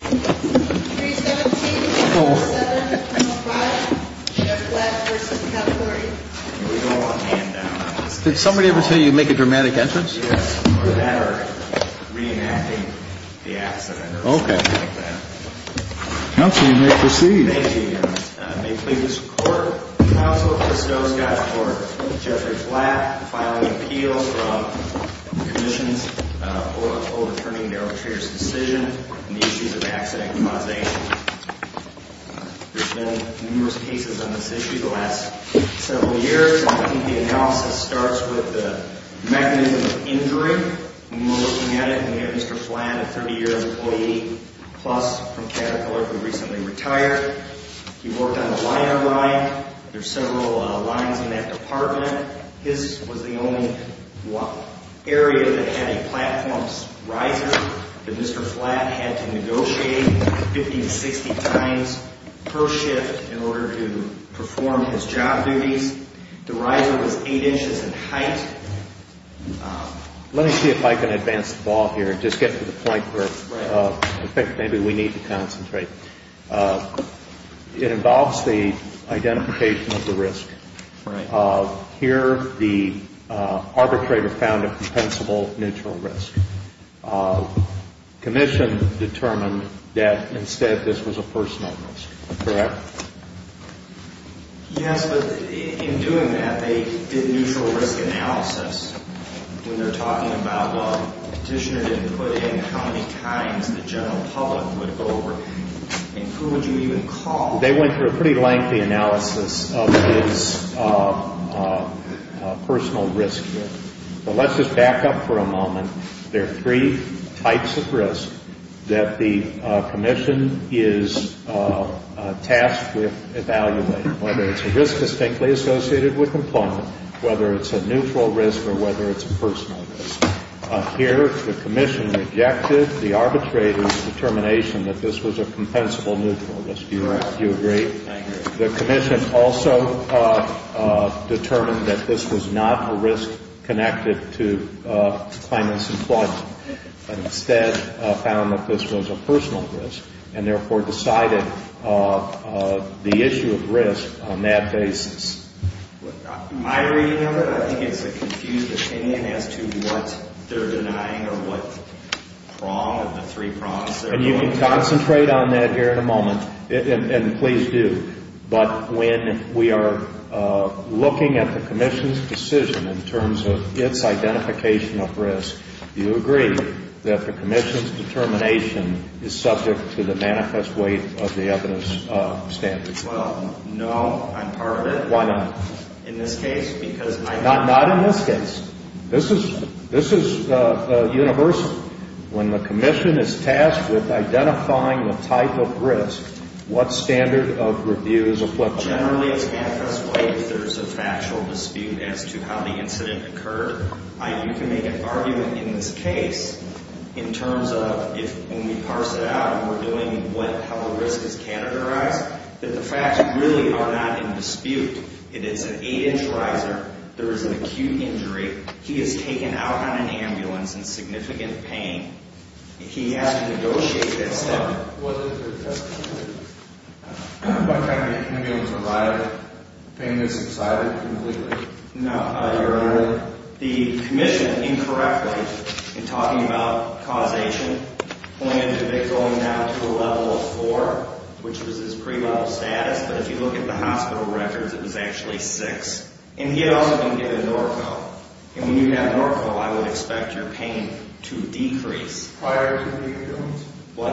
317-107-105, Jeff Flatt v. Caterpillar, Inc. We don't want handouts. Did somebody ever say you'd make a dramatic entrance? Yes, or better, reenacting the accident or something like that. Counsel, you may proceed. Thank you, Your Honor. May it please the Court, Counsel Christo Scott for Jeffrey Flatt, filing an appeal from the Commission's old attorney, Merrill Trier's decision on the issues of accident causation. There's been numerous cases on this issue the last several years. I think the analysis starts with the mechanism of injury. When we're looking at it, we have Mr. Flatt, a 30-year employee, plus from Caterpillar, who recently retired. He worked on the line-by-line. There's several lines in that department. His was the only area that had a platform riser that Mr. Flatt had to negotiate 50 to 60 times per shift in order to perform his job duties. The riser was 8 inches in height. Let me see if I can advance the ball here and just get to the point where I think maybe we need to concentrate. It involves the identification of the risk. Here, the arbitrator found a compensable neutral risk. Commission determined that instead this was a personal risk, correct? Yes, but in doing that, they did neutral risk analysis. When they're talking about what petitioner didn't put in, how many times the general public would go over, and who would you even call? They went through a pretty lengthy analysis of his personal risk here. But let's just back up for a moment. There are three types of risk that the commission is tasked with evaluating, whether it's a risk distinctly associated with employment, whether it's a neutral risk, or whether it's a personal risk. Here, the commission rejected the arbitrator's determination that this was a compensable neutral risk. Do you agree? I agree. The commission also determined that this was not a risk connected to Kleiman's employment, but instead found that this was a personal risk and therefore decided the issue of risk on that basis. In my reading of it, I think it's a confused opinion as to what they're denying or what prong of the three prongs. And you can concentrate on that here in a moment, and please do. But when we are looking at the commission's decision in terms of its identification of risk, do you agree that the commission's determination is subject to the manifest weight of the evidence standard? Well, no. I'm part of it. Why not? In this case, because I'm not. Not in this case. This is universal. When the commission is tasked with identifying the type of risk, what standard of review is applicable? Generally, it's manifest weight if there's a factual dispute as to how the incident occurred. You can make an argument in this case in terms of if, when we parse it out and we're doing what, what level of risk is categorized, that the facts really are not in dispute. It is an 8-inch riser. There is an acute injury. He is taken out on an ambulance in significant pain. He has to negotiate that standard. What is your testimony? What kind of ambulance arrived? The pain is subsided completely? No. Your Honor, the commission, incorrectly, in talking about causation, pointed to it going down to a level of 4, which was his pre-level status. But if you look at the hospital records, it was actually 6. And he had also been given Norco. And when you have Norco, I would expect your pain to decrease. Prior to the ambulance? What?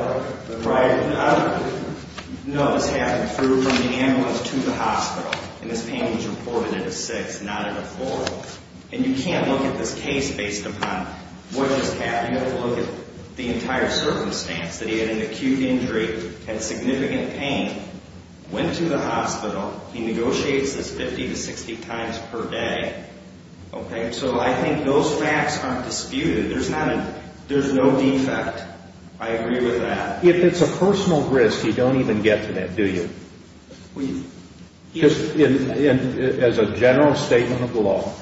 Prior to the ambulance? No, this happened through from the ambulance to the hospital. And this pain was reported at a 6, not at a 4. And you can't look at this case based upon what just happened. I have to look at the entire circumstance, that he had an acute injury, had significant pain, went to the hospital, he negotiates this 50 to 60 times per day. Okay? So I think those facts aren't disputed. There's no defect. I agree with that. If it's a personal risk, you don't even get to that, do you? As a general statement of the law,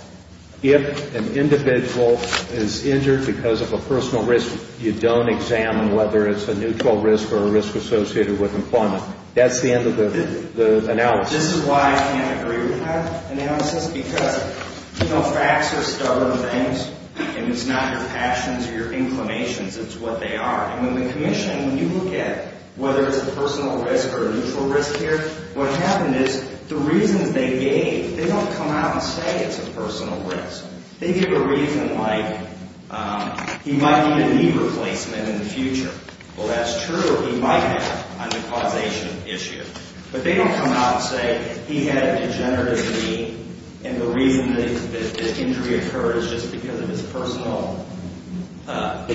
if an individual is injured because of a personal risk, you don't examine whether it's a neutral risk or a risk associated with employment. That's the end of the analysis. This is why I can't agree with that analysis, because facts are stubborn things, and it's not your actions or your inclinations. It's what they are. When the commission, when you look at whether it's a personal risk or a neutral risk here, what happened is the reasons they gave, they don't come out and say it's a personal risk. They give a reason like he might need a knee replacement in the future. Well, that's true. He might have a necrosis issue. But they don't come out and say he had a degenerative knee, and the reason that this injury occurred is just because of his personal risk.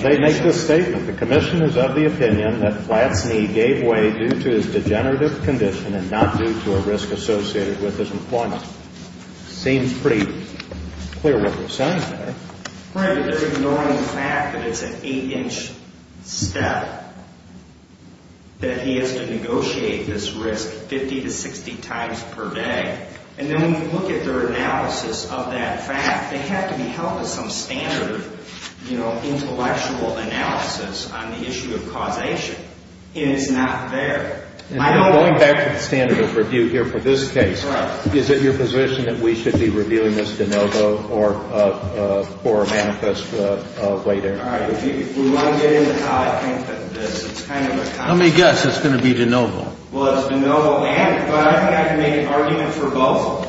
They make this statement. The commission is of the opinion that Platt's knee gave way due to his degenerative condition and not due to a risk associated with his employment. Seems pretty clear what they're saying there. Right, but they're ignoring the fact that it's an 8-inch step that he has to negotiate this risk 50 to 60 times per day. And then when you look at their analysis of that fact, they have to be held to some standard intellectual analysis on the issue of causation. And it's not there. And going back to the standard of review here for this case, is it your position that we should be reviewing this de novo or for a manifest way there? All right, if we want to get into how I think of this, it's kind of a conundrum. Let me guess. It's going to be de novo. Well, it's de novo and, but I don't think I can make an argument for both.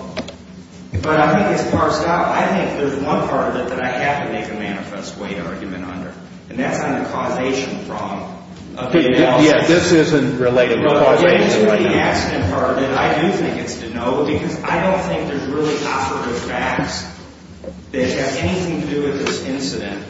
But I think it's parsed out. I think there's one part of it that I have to make a manifest way argument under, and that's on the causation prong of the analysis. Yeah, this isn't related to causation. It isn't related to the accident part of it. I do think it's de novo because I don't think there's really authoritative facts that have anything to do with this incident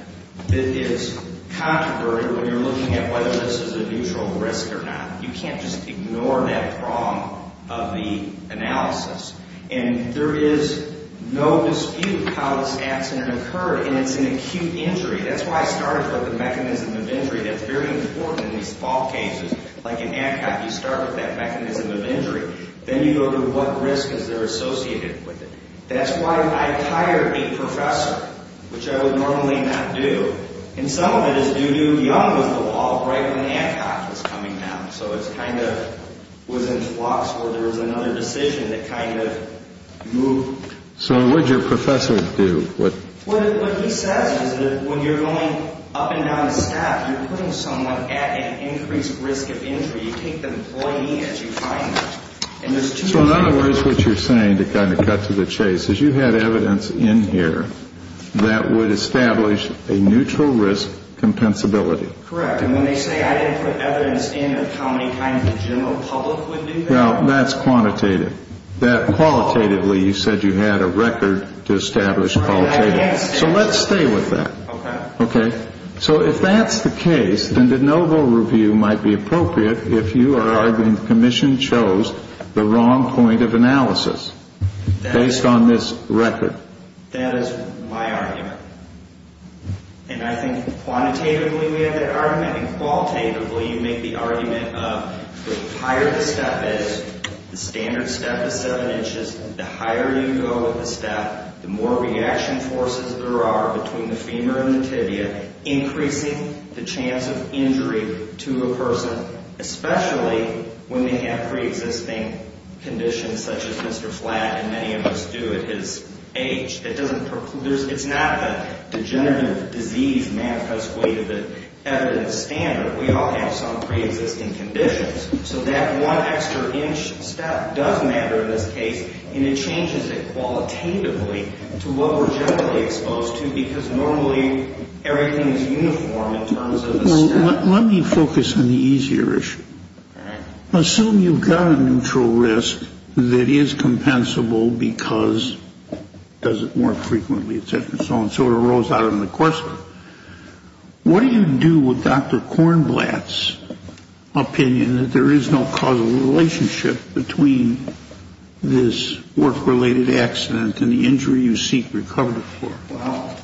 that is controversial when you're looking at whether this is a neutral risk or not. You can't just ignore that prong of the analysis. And there is no dispute how this accident occurred, and it's an acute injury. That's why I started with the mechanism of injury. That's very important in these fault cases. Like in ADCOT, you start with that mechanism of injury. Then you go to what risk is there associated with it. That's why I hired a professor, which I would normally not do. And some of it is due to young was the law right when ADCOT was coming out. So it kind of was in flux where there was another decision that kind of moved. So what did your professor do? What he says is that when you're going up and down a step, you're putting someone at an increased risk of injury. You take the employee as you find them. So in other words, what you're saying to kind of cut to the chase is you had evidence in here that would establish a neutral risk compensability. Correct. And when they say I didn't put evidence in of how many times the general public would do that. Well, that's quantitative. Qualitatively, you said you had a record to establish qualitatively. So let's stay with that. Okay. So if that's the case, then the noble review might be appropriate if you are arguing the commission chose the wrong point of analysis based on this record. That is my argument. And I think quantitatively we have that argument. And qualitatively, you make the argument of the higher the step is, the standard step is seven inches, the higher you go with the step, the more reaction forces there are between the femur and the tibia, increasing the chance of injury to a person, especially when they have preexisting conditions such as Mr. Flatt and many of us do at his age. It's not a degenerative disease manifest way to the evidence standard. We all have some preexisting conditions. So that one extra inch step does matter in this case, and it changes it qualitatively to what we're generally exposed to because normally everything is uniform in terms of the step. Well, let me focus on the easier issue. All right. Assume you've got a neutral risk that is compensable because it doesn't work frequently, et cetera, and so on, so it arose out of the question. What do you do with Dr. Kornblatt's opinion that there is no causal relationship between this work-related accident and the injury you seek recovery for? Well,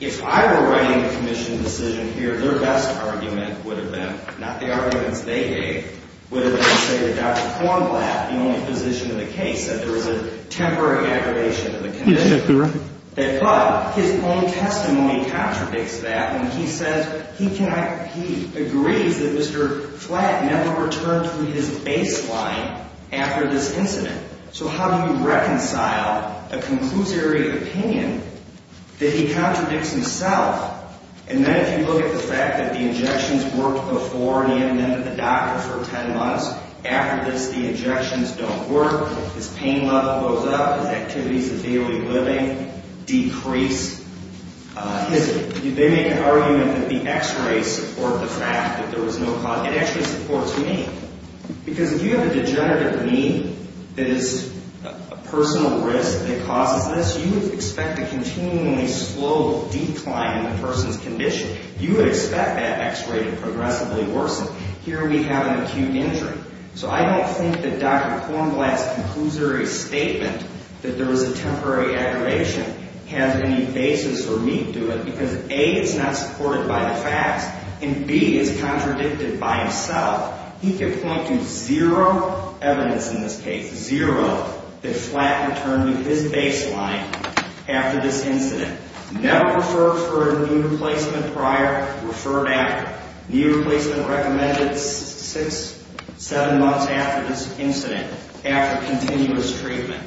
if I were writing the commission's decision here, their best argument would have been, not the arguments they gave, would have been to say that Dr. Kornblatt, the only physician in the case, said there was a temporary aggravation of the condition. But his own testimony contradicts that when he says he agrees that Mr. Flatt never returned to his baseline after this incident. So how do you reconcile a conclusory opinion that he contradicts himself? And then if you look at the fact that the injections worked before and he ended up at the doctor for 10 months. After this, the injections don't work. His pain level goes up. His activities of daily living decrease. They make an argument that the x-rays support the fact that there was no cause. It actually supports me because if you have a degenerative knee that is a personal risk that causes this, you would expect a continually slow decline in the person's condition. You would expect that x-ray to progressively worsen. Here we have an acute injury. So I don't think that Dr. Kornblatt's conclusory statement that there was a temporary aggravation has any basis or meat to it because A, it's not supported by the facts, and B, it's contradicted by himself. He can point to zero evidence in this case, zero, that Flatt returned to his baseline after this incident. Never referred for a knee replacement prior, referred after. Knee replacement recommended six, seven months after this incident, after continuous treatment.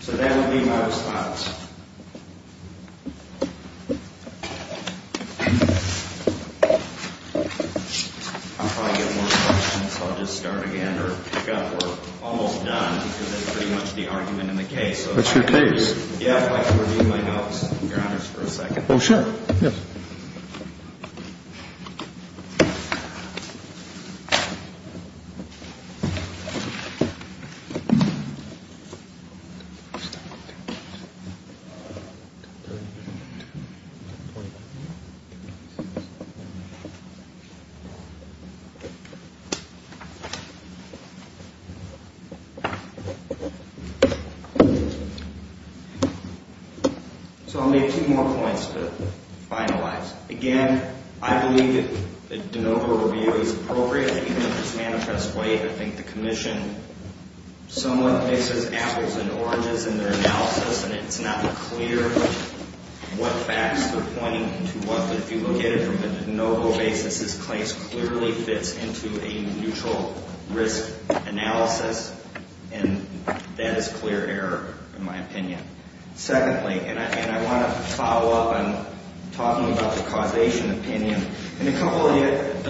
So that would be my response. I'll probably get more questions, so I'll just start again or pick up. We're almost done because that's pretty much the argument in the case. That's your case? Yeah, I'd like to review my notes, Your Honors, for a second. Oh, sure. Thank you. So I'll make two more points to finalize. Again, I believe the de novo review is appropriate. I think it's manifest way. I think the commission somewhat mixes apples and oranges in their analysis, and it's not clear what facts they're pointing to. But if you look at it from a de novo basis, this case clearly fits into a neutral risk analysis, and that is clear error in my opinion. Secondly, and I want to follow up on talking about the causation opinion and a couple of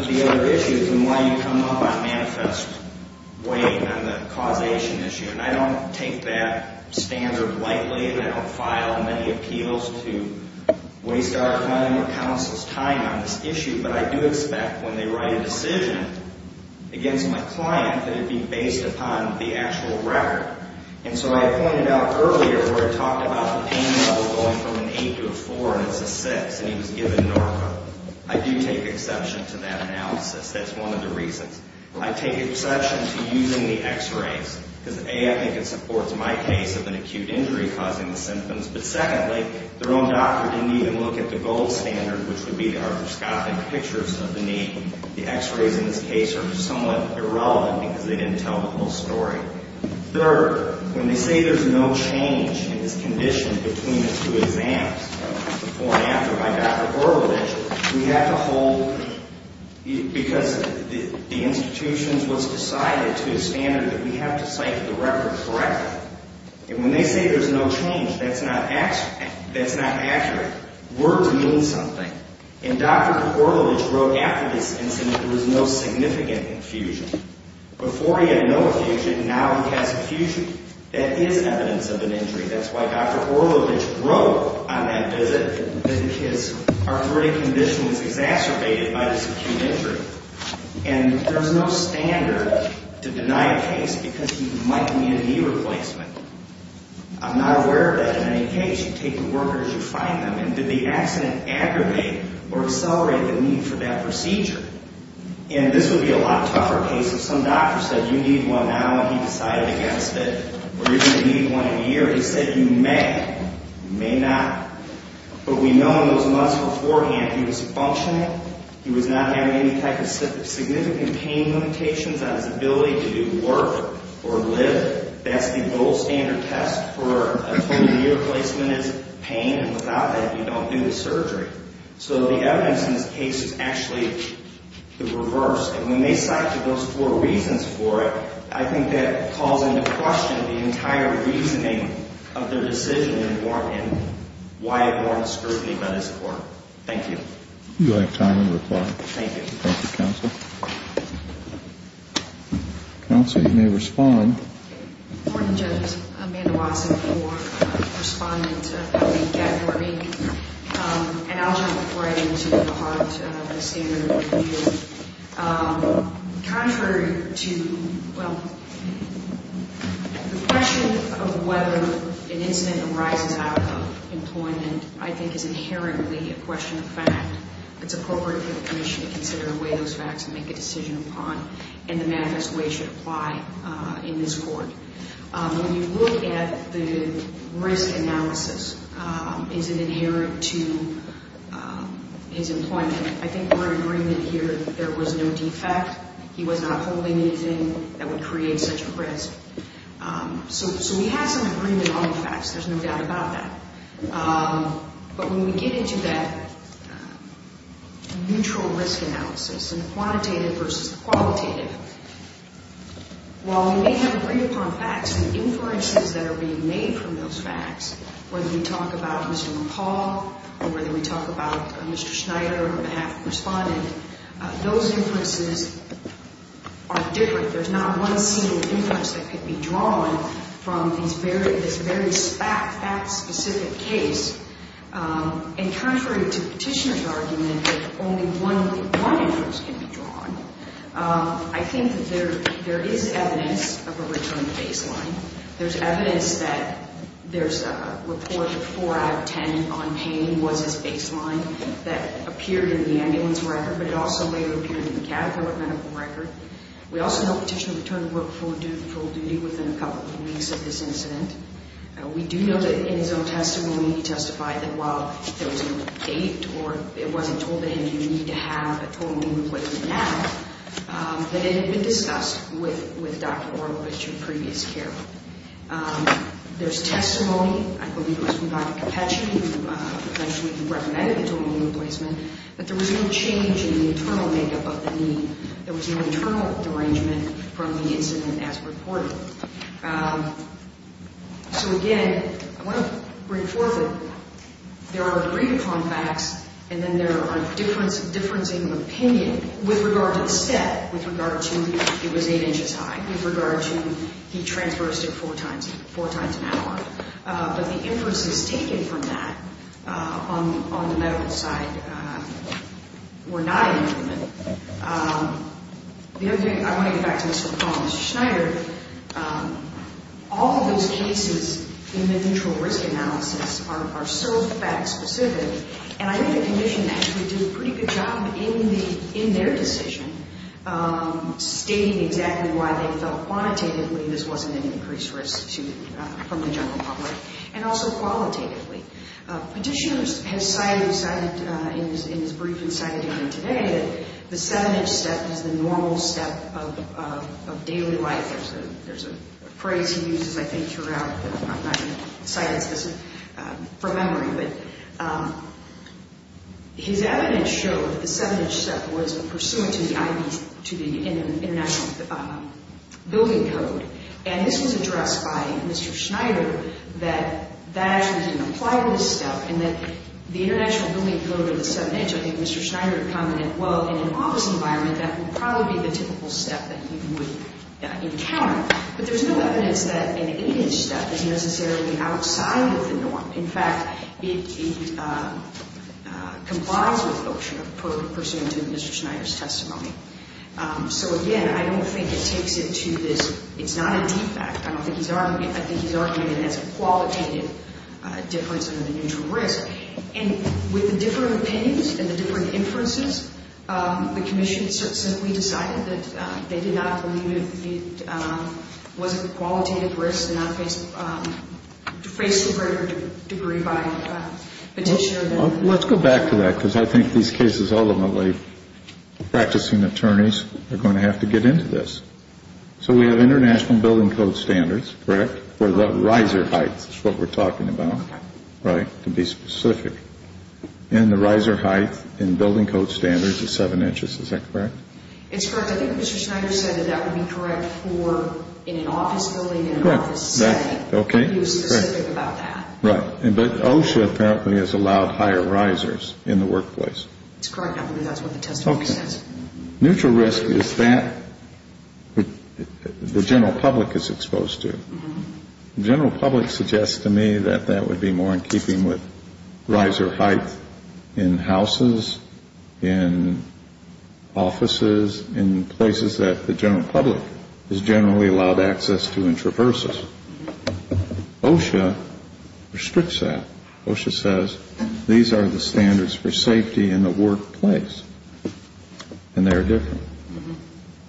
the other issues and why you come up on manifest way and on the causation issue. And I don't take that standard lightly, and I don't file many appeals to waste our time or counsel's time on this issue, but I do expect when they write a decision against my client that it be based upon the actual record. And so I pointed out earlier where I talked about the pain level going from an 8 to a 4, and it's a 6, and he was given narco. I do take exception to that analysis. That's one of the reasons. I take exception to using the x-rays because, A, I think it supports my case of an acute injury causing the symptoms, but secondly, their own doctor didn't even look at the gold standard, which would be the arthroscopic pictures of the knee. The x-rays in this case are somewhat irrelevant because they didn't tell the whole story. Third, when they say there's no change in this condition between the two exams, before and after by Dr. Borovitch, we have to hold, because the institution's was decided to a standard that we have to cite the record correctly. And when they say there's no change, that's not accurate. Words mean something, and Dr. Borovitch wrote after this instance that there was no significant infusion. Before he had no infusion, now he has infusion. That is evidence of an injury. That's why Dr. Borovitch wrote on that visit that his arthritic condition was exacerbated by this acute injury. And there's no standard to deny a case because he might need a knee replacement. I'm not aware of that in any case. You take the workers, you find them, and did the accident aggravate or accelerate the need for that procedure? And this would be a lot tougher case if some doctor said you need one now and he decided against it, or you're going to need one in a year. He said you may, you may not. But we know in those months beforehand he was functioning. He was not having any type of significant pain limitations on his ability to do work or live. That's the gold standard test for a total knee replacement is pain, and without that you don't do the surgery. So the evidence in this case is actually the reverse. And when they cite those four reasons for it, I think that calls into question the entire reasoning of their decision and why it warrants scrutiny by this court. Thank you. You have time to reply. Thank you. Thank you, Counsel. Counsel, you may respond. Good morning, Judge. Amanda Watson for Respondent in January. And I'll jump right into the heart of the standard review. Contrary to, well, the question of whether an incident arises out of employment, I think is inherently a question of fact. It's appropriate for the commission to consider away those facts and make a decision upon, and the manifest way should apply in this court. When you look at the risk analysis, is it inherent to his employment? I think we're in agreement here that there was no defect. He was not holding anything that would create such a risk. So we have some agreement on the facts. There's no doubt about that. But when we get into that neutral risk analysis and quantitative versus qualitative, while we may have agreed upon facts, the inferences that are being made from those facts, whether we talk about Mr. McCall or whether we talk about Mr. Schneider on behalf of the respondent, those inferences are different. There's not one single inference that could be drawn from this very fact-specific case. And contrary to Petitioner's argument that only one inference can be drawn, I think that there is evidence of a return to baseline. There's evidence that there's a report of 4 out of 10 on pain was his baseline that appeared in the ambulance record, but it also later appeared in the catheter medical record. We also know Petitioner returned to work full-duty within a couple of weeks of this incident. We do know that in his own testimony he testified that while there was no date or it wasn't told to him you need to have a total knee replacement now, that it had been discussed with Dr. Oro with your previous care. There's testimony, I believe it was from Dr. Cappecci, who eventually recommended the total knee replacement, that there was no change in the internal makeup of the knee. There was no internal derangement from the incident as reported. So, again, I want to bring forth that there are agreed-upon facts and then there are differences in opinion with regard to the set, with regard to it was 8 inches high, with regard to he transversed it four times an hour. But the inferences taken from that on the medical side were not in agreement. The other thing I want to get back to is from Mr. Schneider. All of those cases in the neutral risk analysis are so fact-specific and I think the Commission actually did a pretty good job in their decision stating exactly why they felt quantitatively this wasn't an increased risk from the general public, and also qualitatively. Petitioners have cited, in his brief he cited here today, that the 7-inch step is the normal step of daily life. There's a phrase he uses, I think, throughout, but I'm not going to cite it because it's from memory. But his evidence showed that the 7-inch step was pursuant to the international building code. And this was addressed by Mr. Schneider that that actually didn't apply to this step and that the international building code of the 7-inch, I think Mr. Schneider commented, well, in an office environment, that would probably be the typical step that you would encounter. But there's no evidence that an 8-inch step is necessarily outside of the norm. In fact, it complies with OSHA pursuant to Mr. Schneider's testimony. So again, I don't think it takes it to this, it's not a defect. I don't think he's arguing, I think he's arguing it as a qualitative difference in the neutral risk. And with the different opinions and the different inferences, the Commission simply decided that they did not believe it was a qualitative risk and that it does not face a greater degree by petition. Let's go back to that because I think these cases, ultimately, practicing attorneys are going to have to get into this. So we have international building code standards, correct, for the riser heights, is what we're talking about, right, to be specific. And the riser height in building code standards is 7 inches, is that correct? It's correct. So I think Mr. Schneider said that that would be correct for in an office building, in an office setting. Okay. He was specific about that. Right. But OSHA apparently has allowed higher risers in the workplace. It's correct. I believe that's what the testimony says. Okay. Neutral risk is that the general public is exposed to. The general public suggests to me that that would be more in keeping with riser heights in houses, in offices, in places that the general public is generally allowed access to in traverses. OSHA restricts that. OSHA says these are the standards for safety in the workplace and they're different.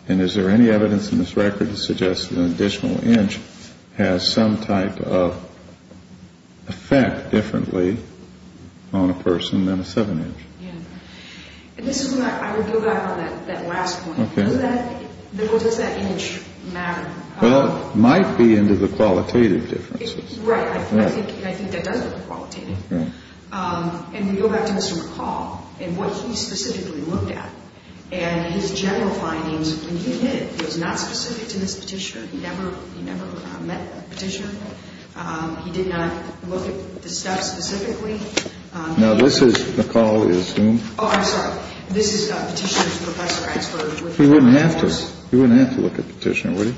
And is there any evidence in this record to suggest that an additional inch has some type of effect differently on a person than a 7 inch? Yeah. And this is when I would go back on that last point. Does that image matter? Well, it might be into the qualitative differences. Right. And I think that does look qualitative. And we go back to Mr. McCall and what he specifically looked at. And his general findings when he did, he was not specific to this petitioner. He never met the petitioner. He did not look at the steps specifically. Now, this is, McCall is whom? Oh, I'm sorry. This is Petitioner's professor. He wouldn't have to. He wouldn't have to look at Petitioner, would he?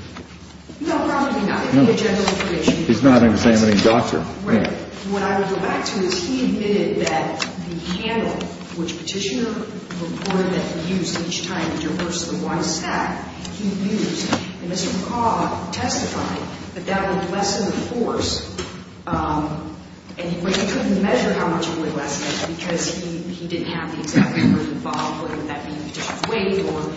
No, probably not. No. He's not examining doctor. Right. What I would go back to is he admitted that the handle which Petitioner reported that he used each time to reverse the Y stack, he used. And Mr. McCall testified that that would lessen the force. And he couldn't measure how much it would lessen because he didn't have the exact number involved, whether that be weight or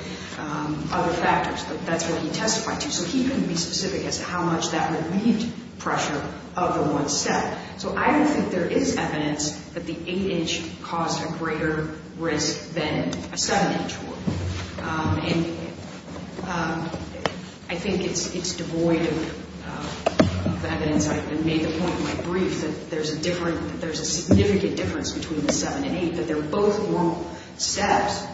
other factors. But that's what he testified to. So he couldn't be specific as to how much that would meet pressure of the one step. So I don't think there is evidence that the 8-inch caused a greater risk than a 7-inch would. And I think it's devoid of evidence. I made the point in my brief that there's a significant difference between the 7 and 8, that they're both normal steps.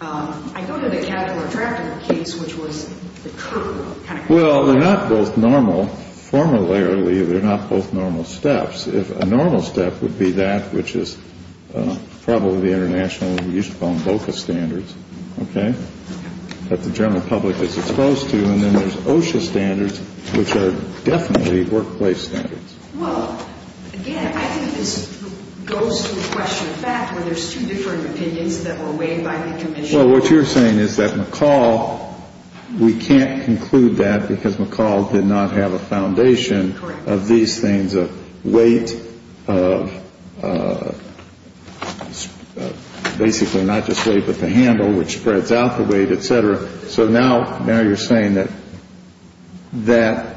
I go to the capillary tractive case, which was the curve kind of curve. Well, they're not both normal. Formally, they're not both normal steps. If a normal step would be that, which is probably the international, we used to call them VOCA standards, OK, that the general public is exposed to. And then there's OSHA standards, which are definitely workplace standards. Well, again, I think this goes to the question of fact, where there's two different opinions that were weighed by the commission. So what you're saying is that McCall, we can't conclude that because McCall did not have a foundation of these things of weight, of basically not just weight, but the handle, which spreads out the weight, et cetera. So now now you're saying that that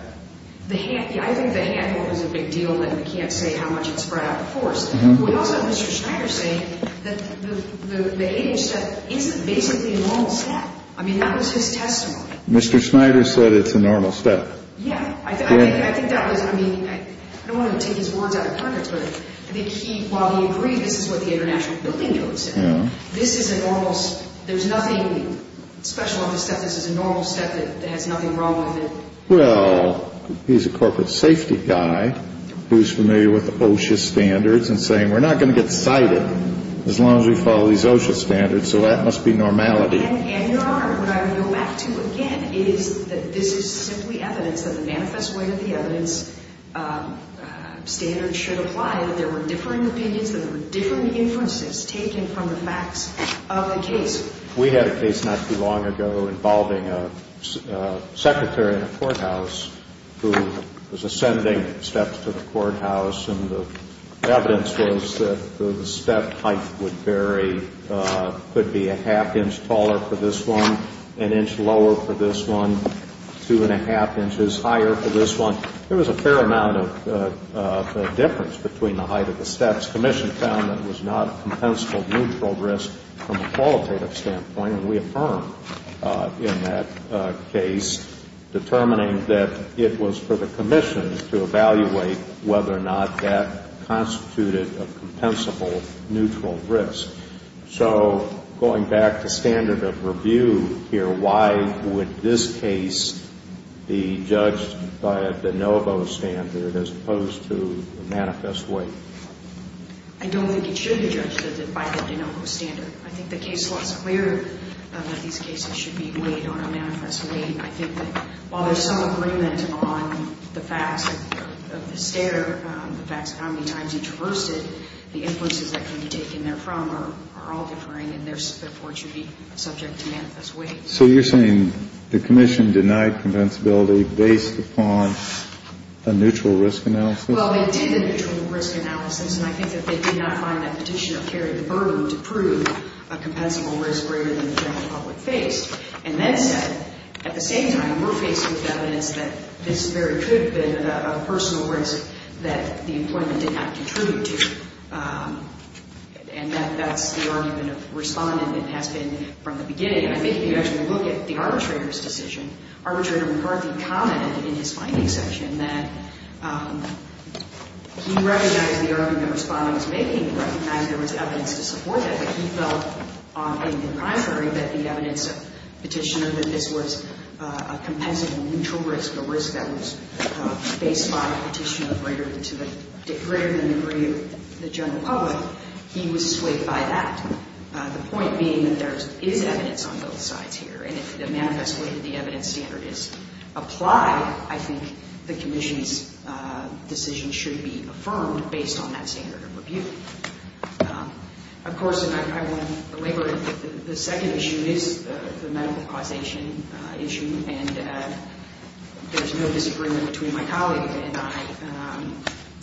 the handle is a big deal and we can't say how much it's spread out. Of course, we also have Mr. Schneider saying that the 8-inch isn't basically a normal step. I mean, that was his testimony. Mr. Schneider said it's a normal step. Yeah, I think that was. I mean, I don't want to take his words out of context, but I think he while he agreed, this is what the international building notes. This is a normal step. There's nothing special about this step. This is a normal step that has nothing wrong with it. Well, he's a corporate safety guy who's familiar with the OSHA standards and saying we're not going to get cited as long as we follow these OSHA standards. So that must be normality. And, Your Honor, what I would go back to again is that this is simply evidence that the manifest weight of the evidence standards should apply. And there were differing opinions and there were different inferences taken from the facts of the case. We had a case not too long ago involving a secretary in a courthouse who was ascending steps to the courthouse, and the evidence was that the step height would vary, could be a half inch taller for this one, an inch lower for this one, two and a half inches higher for this one. There was a fair amount of difference between the height of the steps. Commission found it was not a compensable neutral risk from a qualitative standpoint, and we affirmed in that case determining that it was for the commission to evaluate whether or not that constituted a compensable neutral risk. So going back to standard of review here, why would this case be judged by a de novo standard as opposed to a manifest weight? I don't think it should be judged by the de novo standard. I think the case law is clear that these cases should be weighed on a manifest weight. I think that while there's some agreement on the facts of the stare, the facts of how many times each was roasted, the influences that can be taken therefrom are all differing, and therefore it should be subject to manifest weight. So you're saying the commission denied compensability based upon a neutral risk analysis? Well, they did a neutral risk analysis, and I think that they did not find that petitioner carried the burden to prove a compensable risk greater than the general public faced, and then said at the same time, we're faced with evidence that this very could have been a personal risk that the employment did not contribute to, and that's the argument of Respondent that has been from the beginning. I think if you actually look at the arbitrator's decision, arbitrator McCarthy commented in his finding section that he recognized the argument Respondent was making, he recognized there was evidence to support that, but he felt in the primary that the evidence of petitioner that this was a compensable neutral risk, a risk that was faced by a petitioner greater than the degree of the general public, he was swayed by that. The point being that there is evidence on both sides here, and if the manifest weight of the evidence standard is applied, I think the commission's decision should be affirmed based on that standard of review. Of course, the second issue is the medical causation issue, and there's no disagreement between my colleague and I,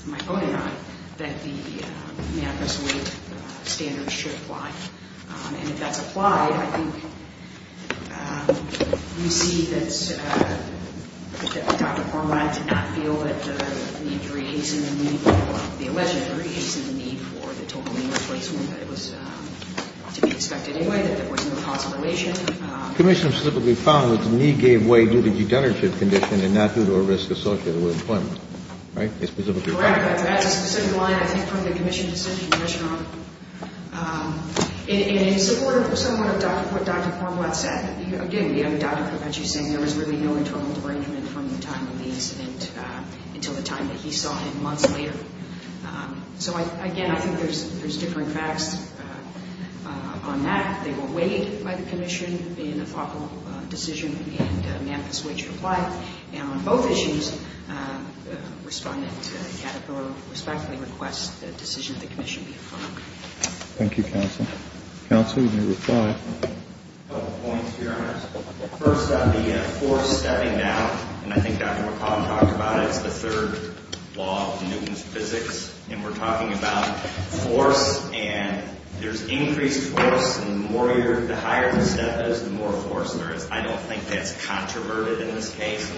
my opponent and I, that the manifest weight standard should apply. And if that's applied, I think we see that Dr. Cormack did not feel that the need to rehasen the need, the alleged rehasen the need for the total labor placement that was to be expected anyway, that there was no causal relation. The commission specifically found that the need gave way due to degenerative condition and not due to a risk associated with employment. Right? That's a specific line, I think, from the commission's decision to measure on. In support of somewhat of what Dr. Cormack said, again, we have Dr. Pepecci saying there was really no internal derangement from the time of the incident until the time that he saw him months later. So, again, I think there's differing facts on that. They were weighed by the commission in a thoughtful decision, and the manifest weight should apply. And on both issues, respondent Caterpillar respectfully requests the decision of the commission be approved. Thank you, counsel. Counsel, you may reply. A couple points here on this. First, the force stepping down, and I think Dr. McCall talked about it. It's the third law of Newton's physics, and we're talking about force, and there's increased force, and the higher the step is, the more force there is. I don't think that's controverted in this case.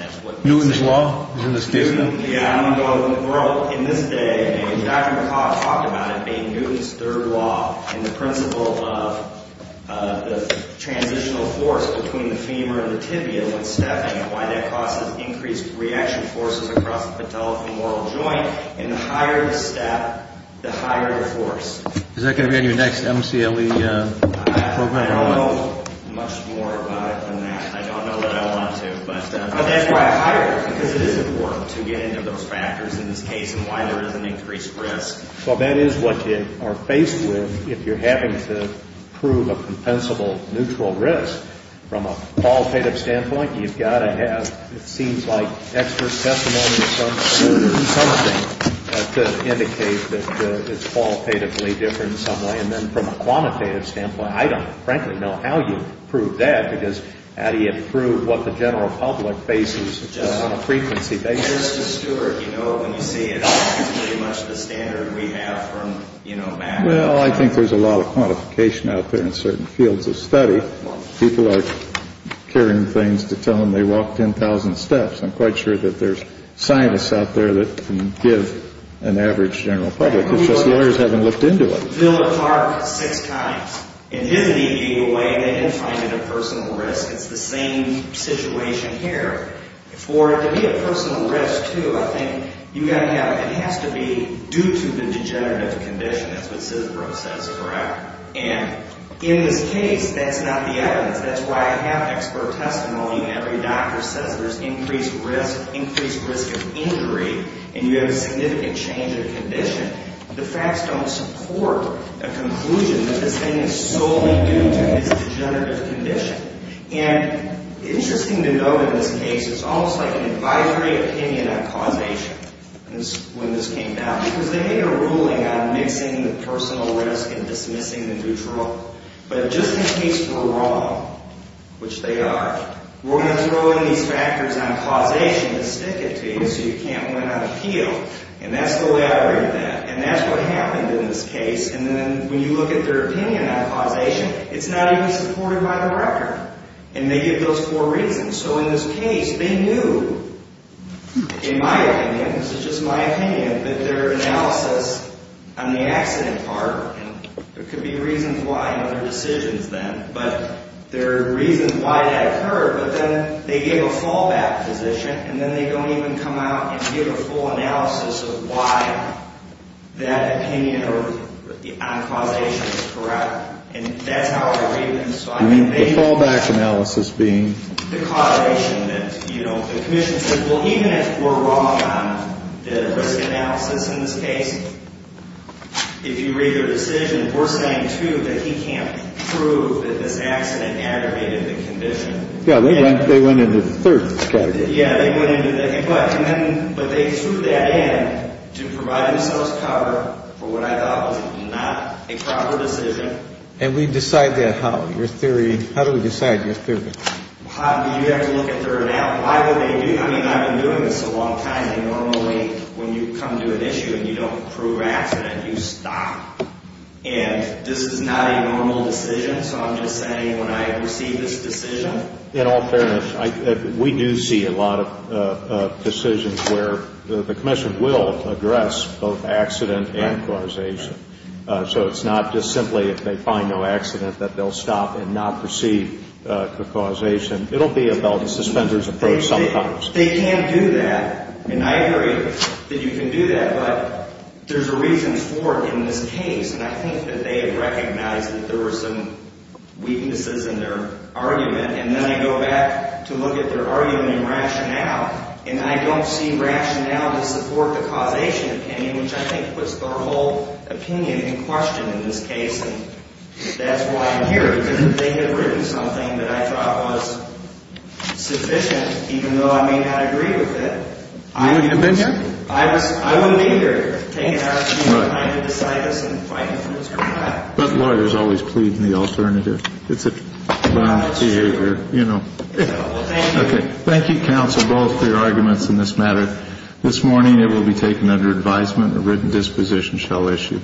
Newton's law is in this case? Yeah. In this day, Dr. McCall talked about it being Newton's third law, and the principle of the transitional force between the femur and the tibia when stepping, and why that causes increased reaction forces across the patella femoral joint, and the higher the step, the higher the force. Is that going to be on your next MCLE program? I don't know much more about it than that. I don't know what I want to. But that's why I hired you, because it is important to get into those factors in this case and why there is an increased risk. Well, that is what you are faced with if you're having to prove a compensable neutral risk. From a qualitative standpoint, you've got to have, it seems like, expert testimony or something to indicate that it's qualitatively different in some way. And then from a quantitative standpoint, I don't frankly know how you prove that, because how do you prove what the general public bases on a frequency basis? Mr. Stewart, you know when you say it's pretty much the standard we have from, you know, math. Well, I think there's a lot of quantification out there in certain fields of study. People are carrying things to tell them they walked 10,000 steps. I'm quite sure that there's scientists out there that can give an average general public. It's just lawyers haven't looked into it. The Villa Park six times. It is an illegal way, and they did find it a personal risk. It's the same situation here. For it to be a personal risk, too, I think you've got to have, it has to be due to the degenerative condition. That's what Sisbro says forever. And in this case, that's not the evidence. That's why I have expert testimony, and every doctor says there's increased risk, increased risk of injury, and you have a significant change of condition. The facts don't support a conclusion that this thing is solely due to this degenerative condition. And interesting to note in this case, it's almost like an advisory opinion on causation when this came down because they made a ruling on mixing the personal risk and dismissing the neutral. But just in case we're wrong, which they are, we're going to throw in these factors on causation to stick it to you so you can't win on appeal. And that's the way I read that, and that's what happened in this case. And then when you look at their opinion on causation, it's not even supported by the record, and they give those four reasons. So in this case, they knew, in my opinion, this is just my opinion, that their analysis on the accident part, and there could be reasons why in other decisions then, but there are reasons why that occurred. But then they gave a fallback position, and then they don't even come out and give a full analysis of why that opinion on causation is correct. And that's how I read them. The fallback analysis being? The causation that, you know, the commission says, well, even if we're wrong on the risk analysis in this case, if you read their decision, we're saying, too, that he can't prove that this accident aggravated the condition. Yeah, they went into the third category. Yeah, they went into that. But they threw that in to provide themselves cover for what I thought was not a proper decision. And we decide that how, your theory? How do we decide your theory? You have to look at their analysis. Why would they do that? I mean, I've been doing this a long time, and normally when you come to an issue and you don't prove accident, you stop. And this is not a normal decision. So I'm just saying when I receive this decision. In all fairness, we do see a lot of decisions where the commission will address both accident and causation. So it's not just simply if they find no accident that they'll stop and not proceed to causation. It will be a belt and suspenders approach sometimes. They can't do that. And I agree that you can do that. But there's a reason for it in this case. And I think that they have recognized that there were some weaknesses in their argument. And then I go back to look at their argument and rationale. And I don't see rationale to support the causation opinion, which I think puts their whole opinion in question in this case. And that's why I'm here, because if they had written something that I thought was sufficient, even though I may not agree with it. I wouldn't have been here. I wouldn't be here to take an argument and try to decide this and find out what's going on. But lawyers always plead in the alternative. It's a bond behavior, you know. Well, thank you. Thank you, counsel, both for your arguments in this matter. This morning it will be taken under advisement. A written disposition shall issue.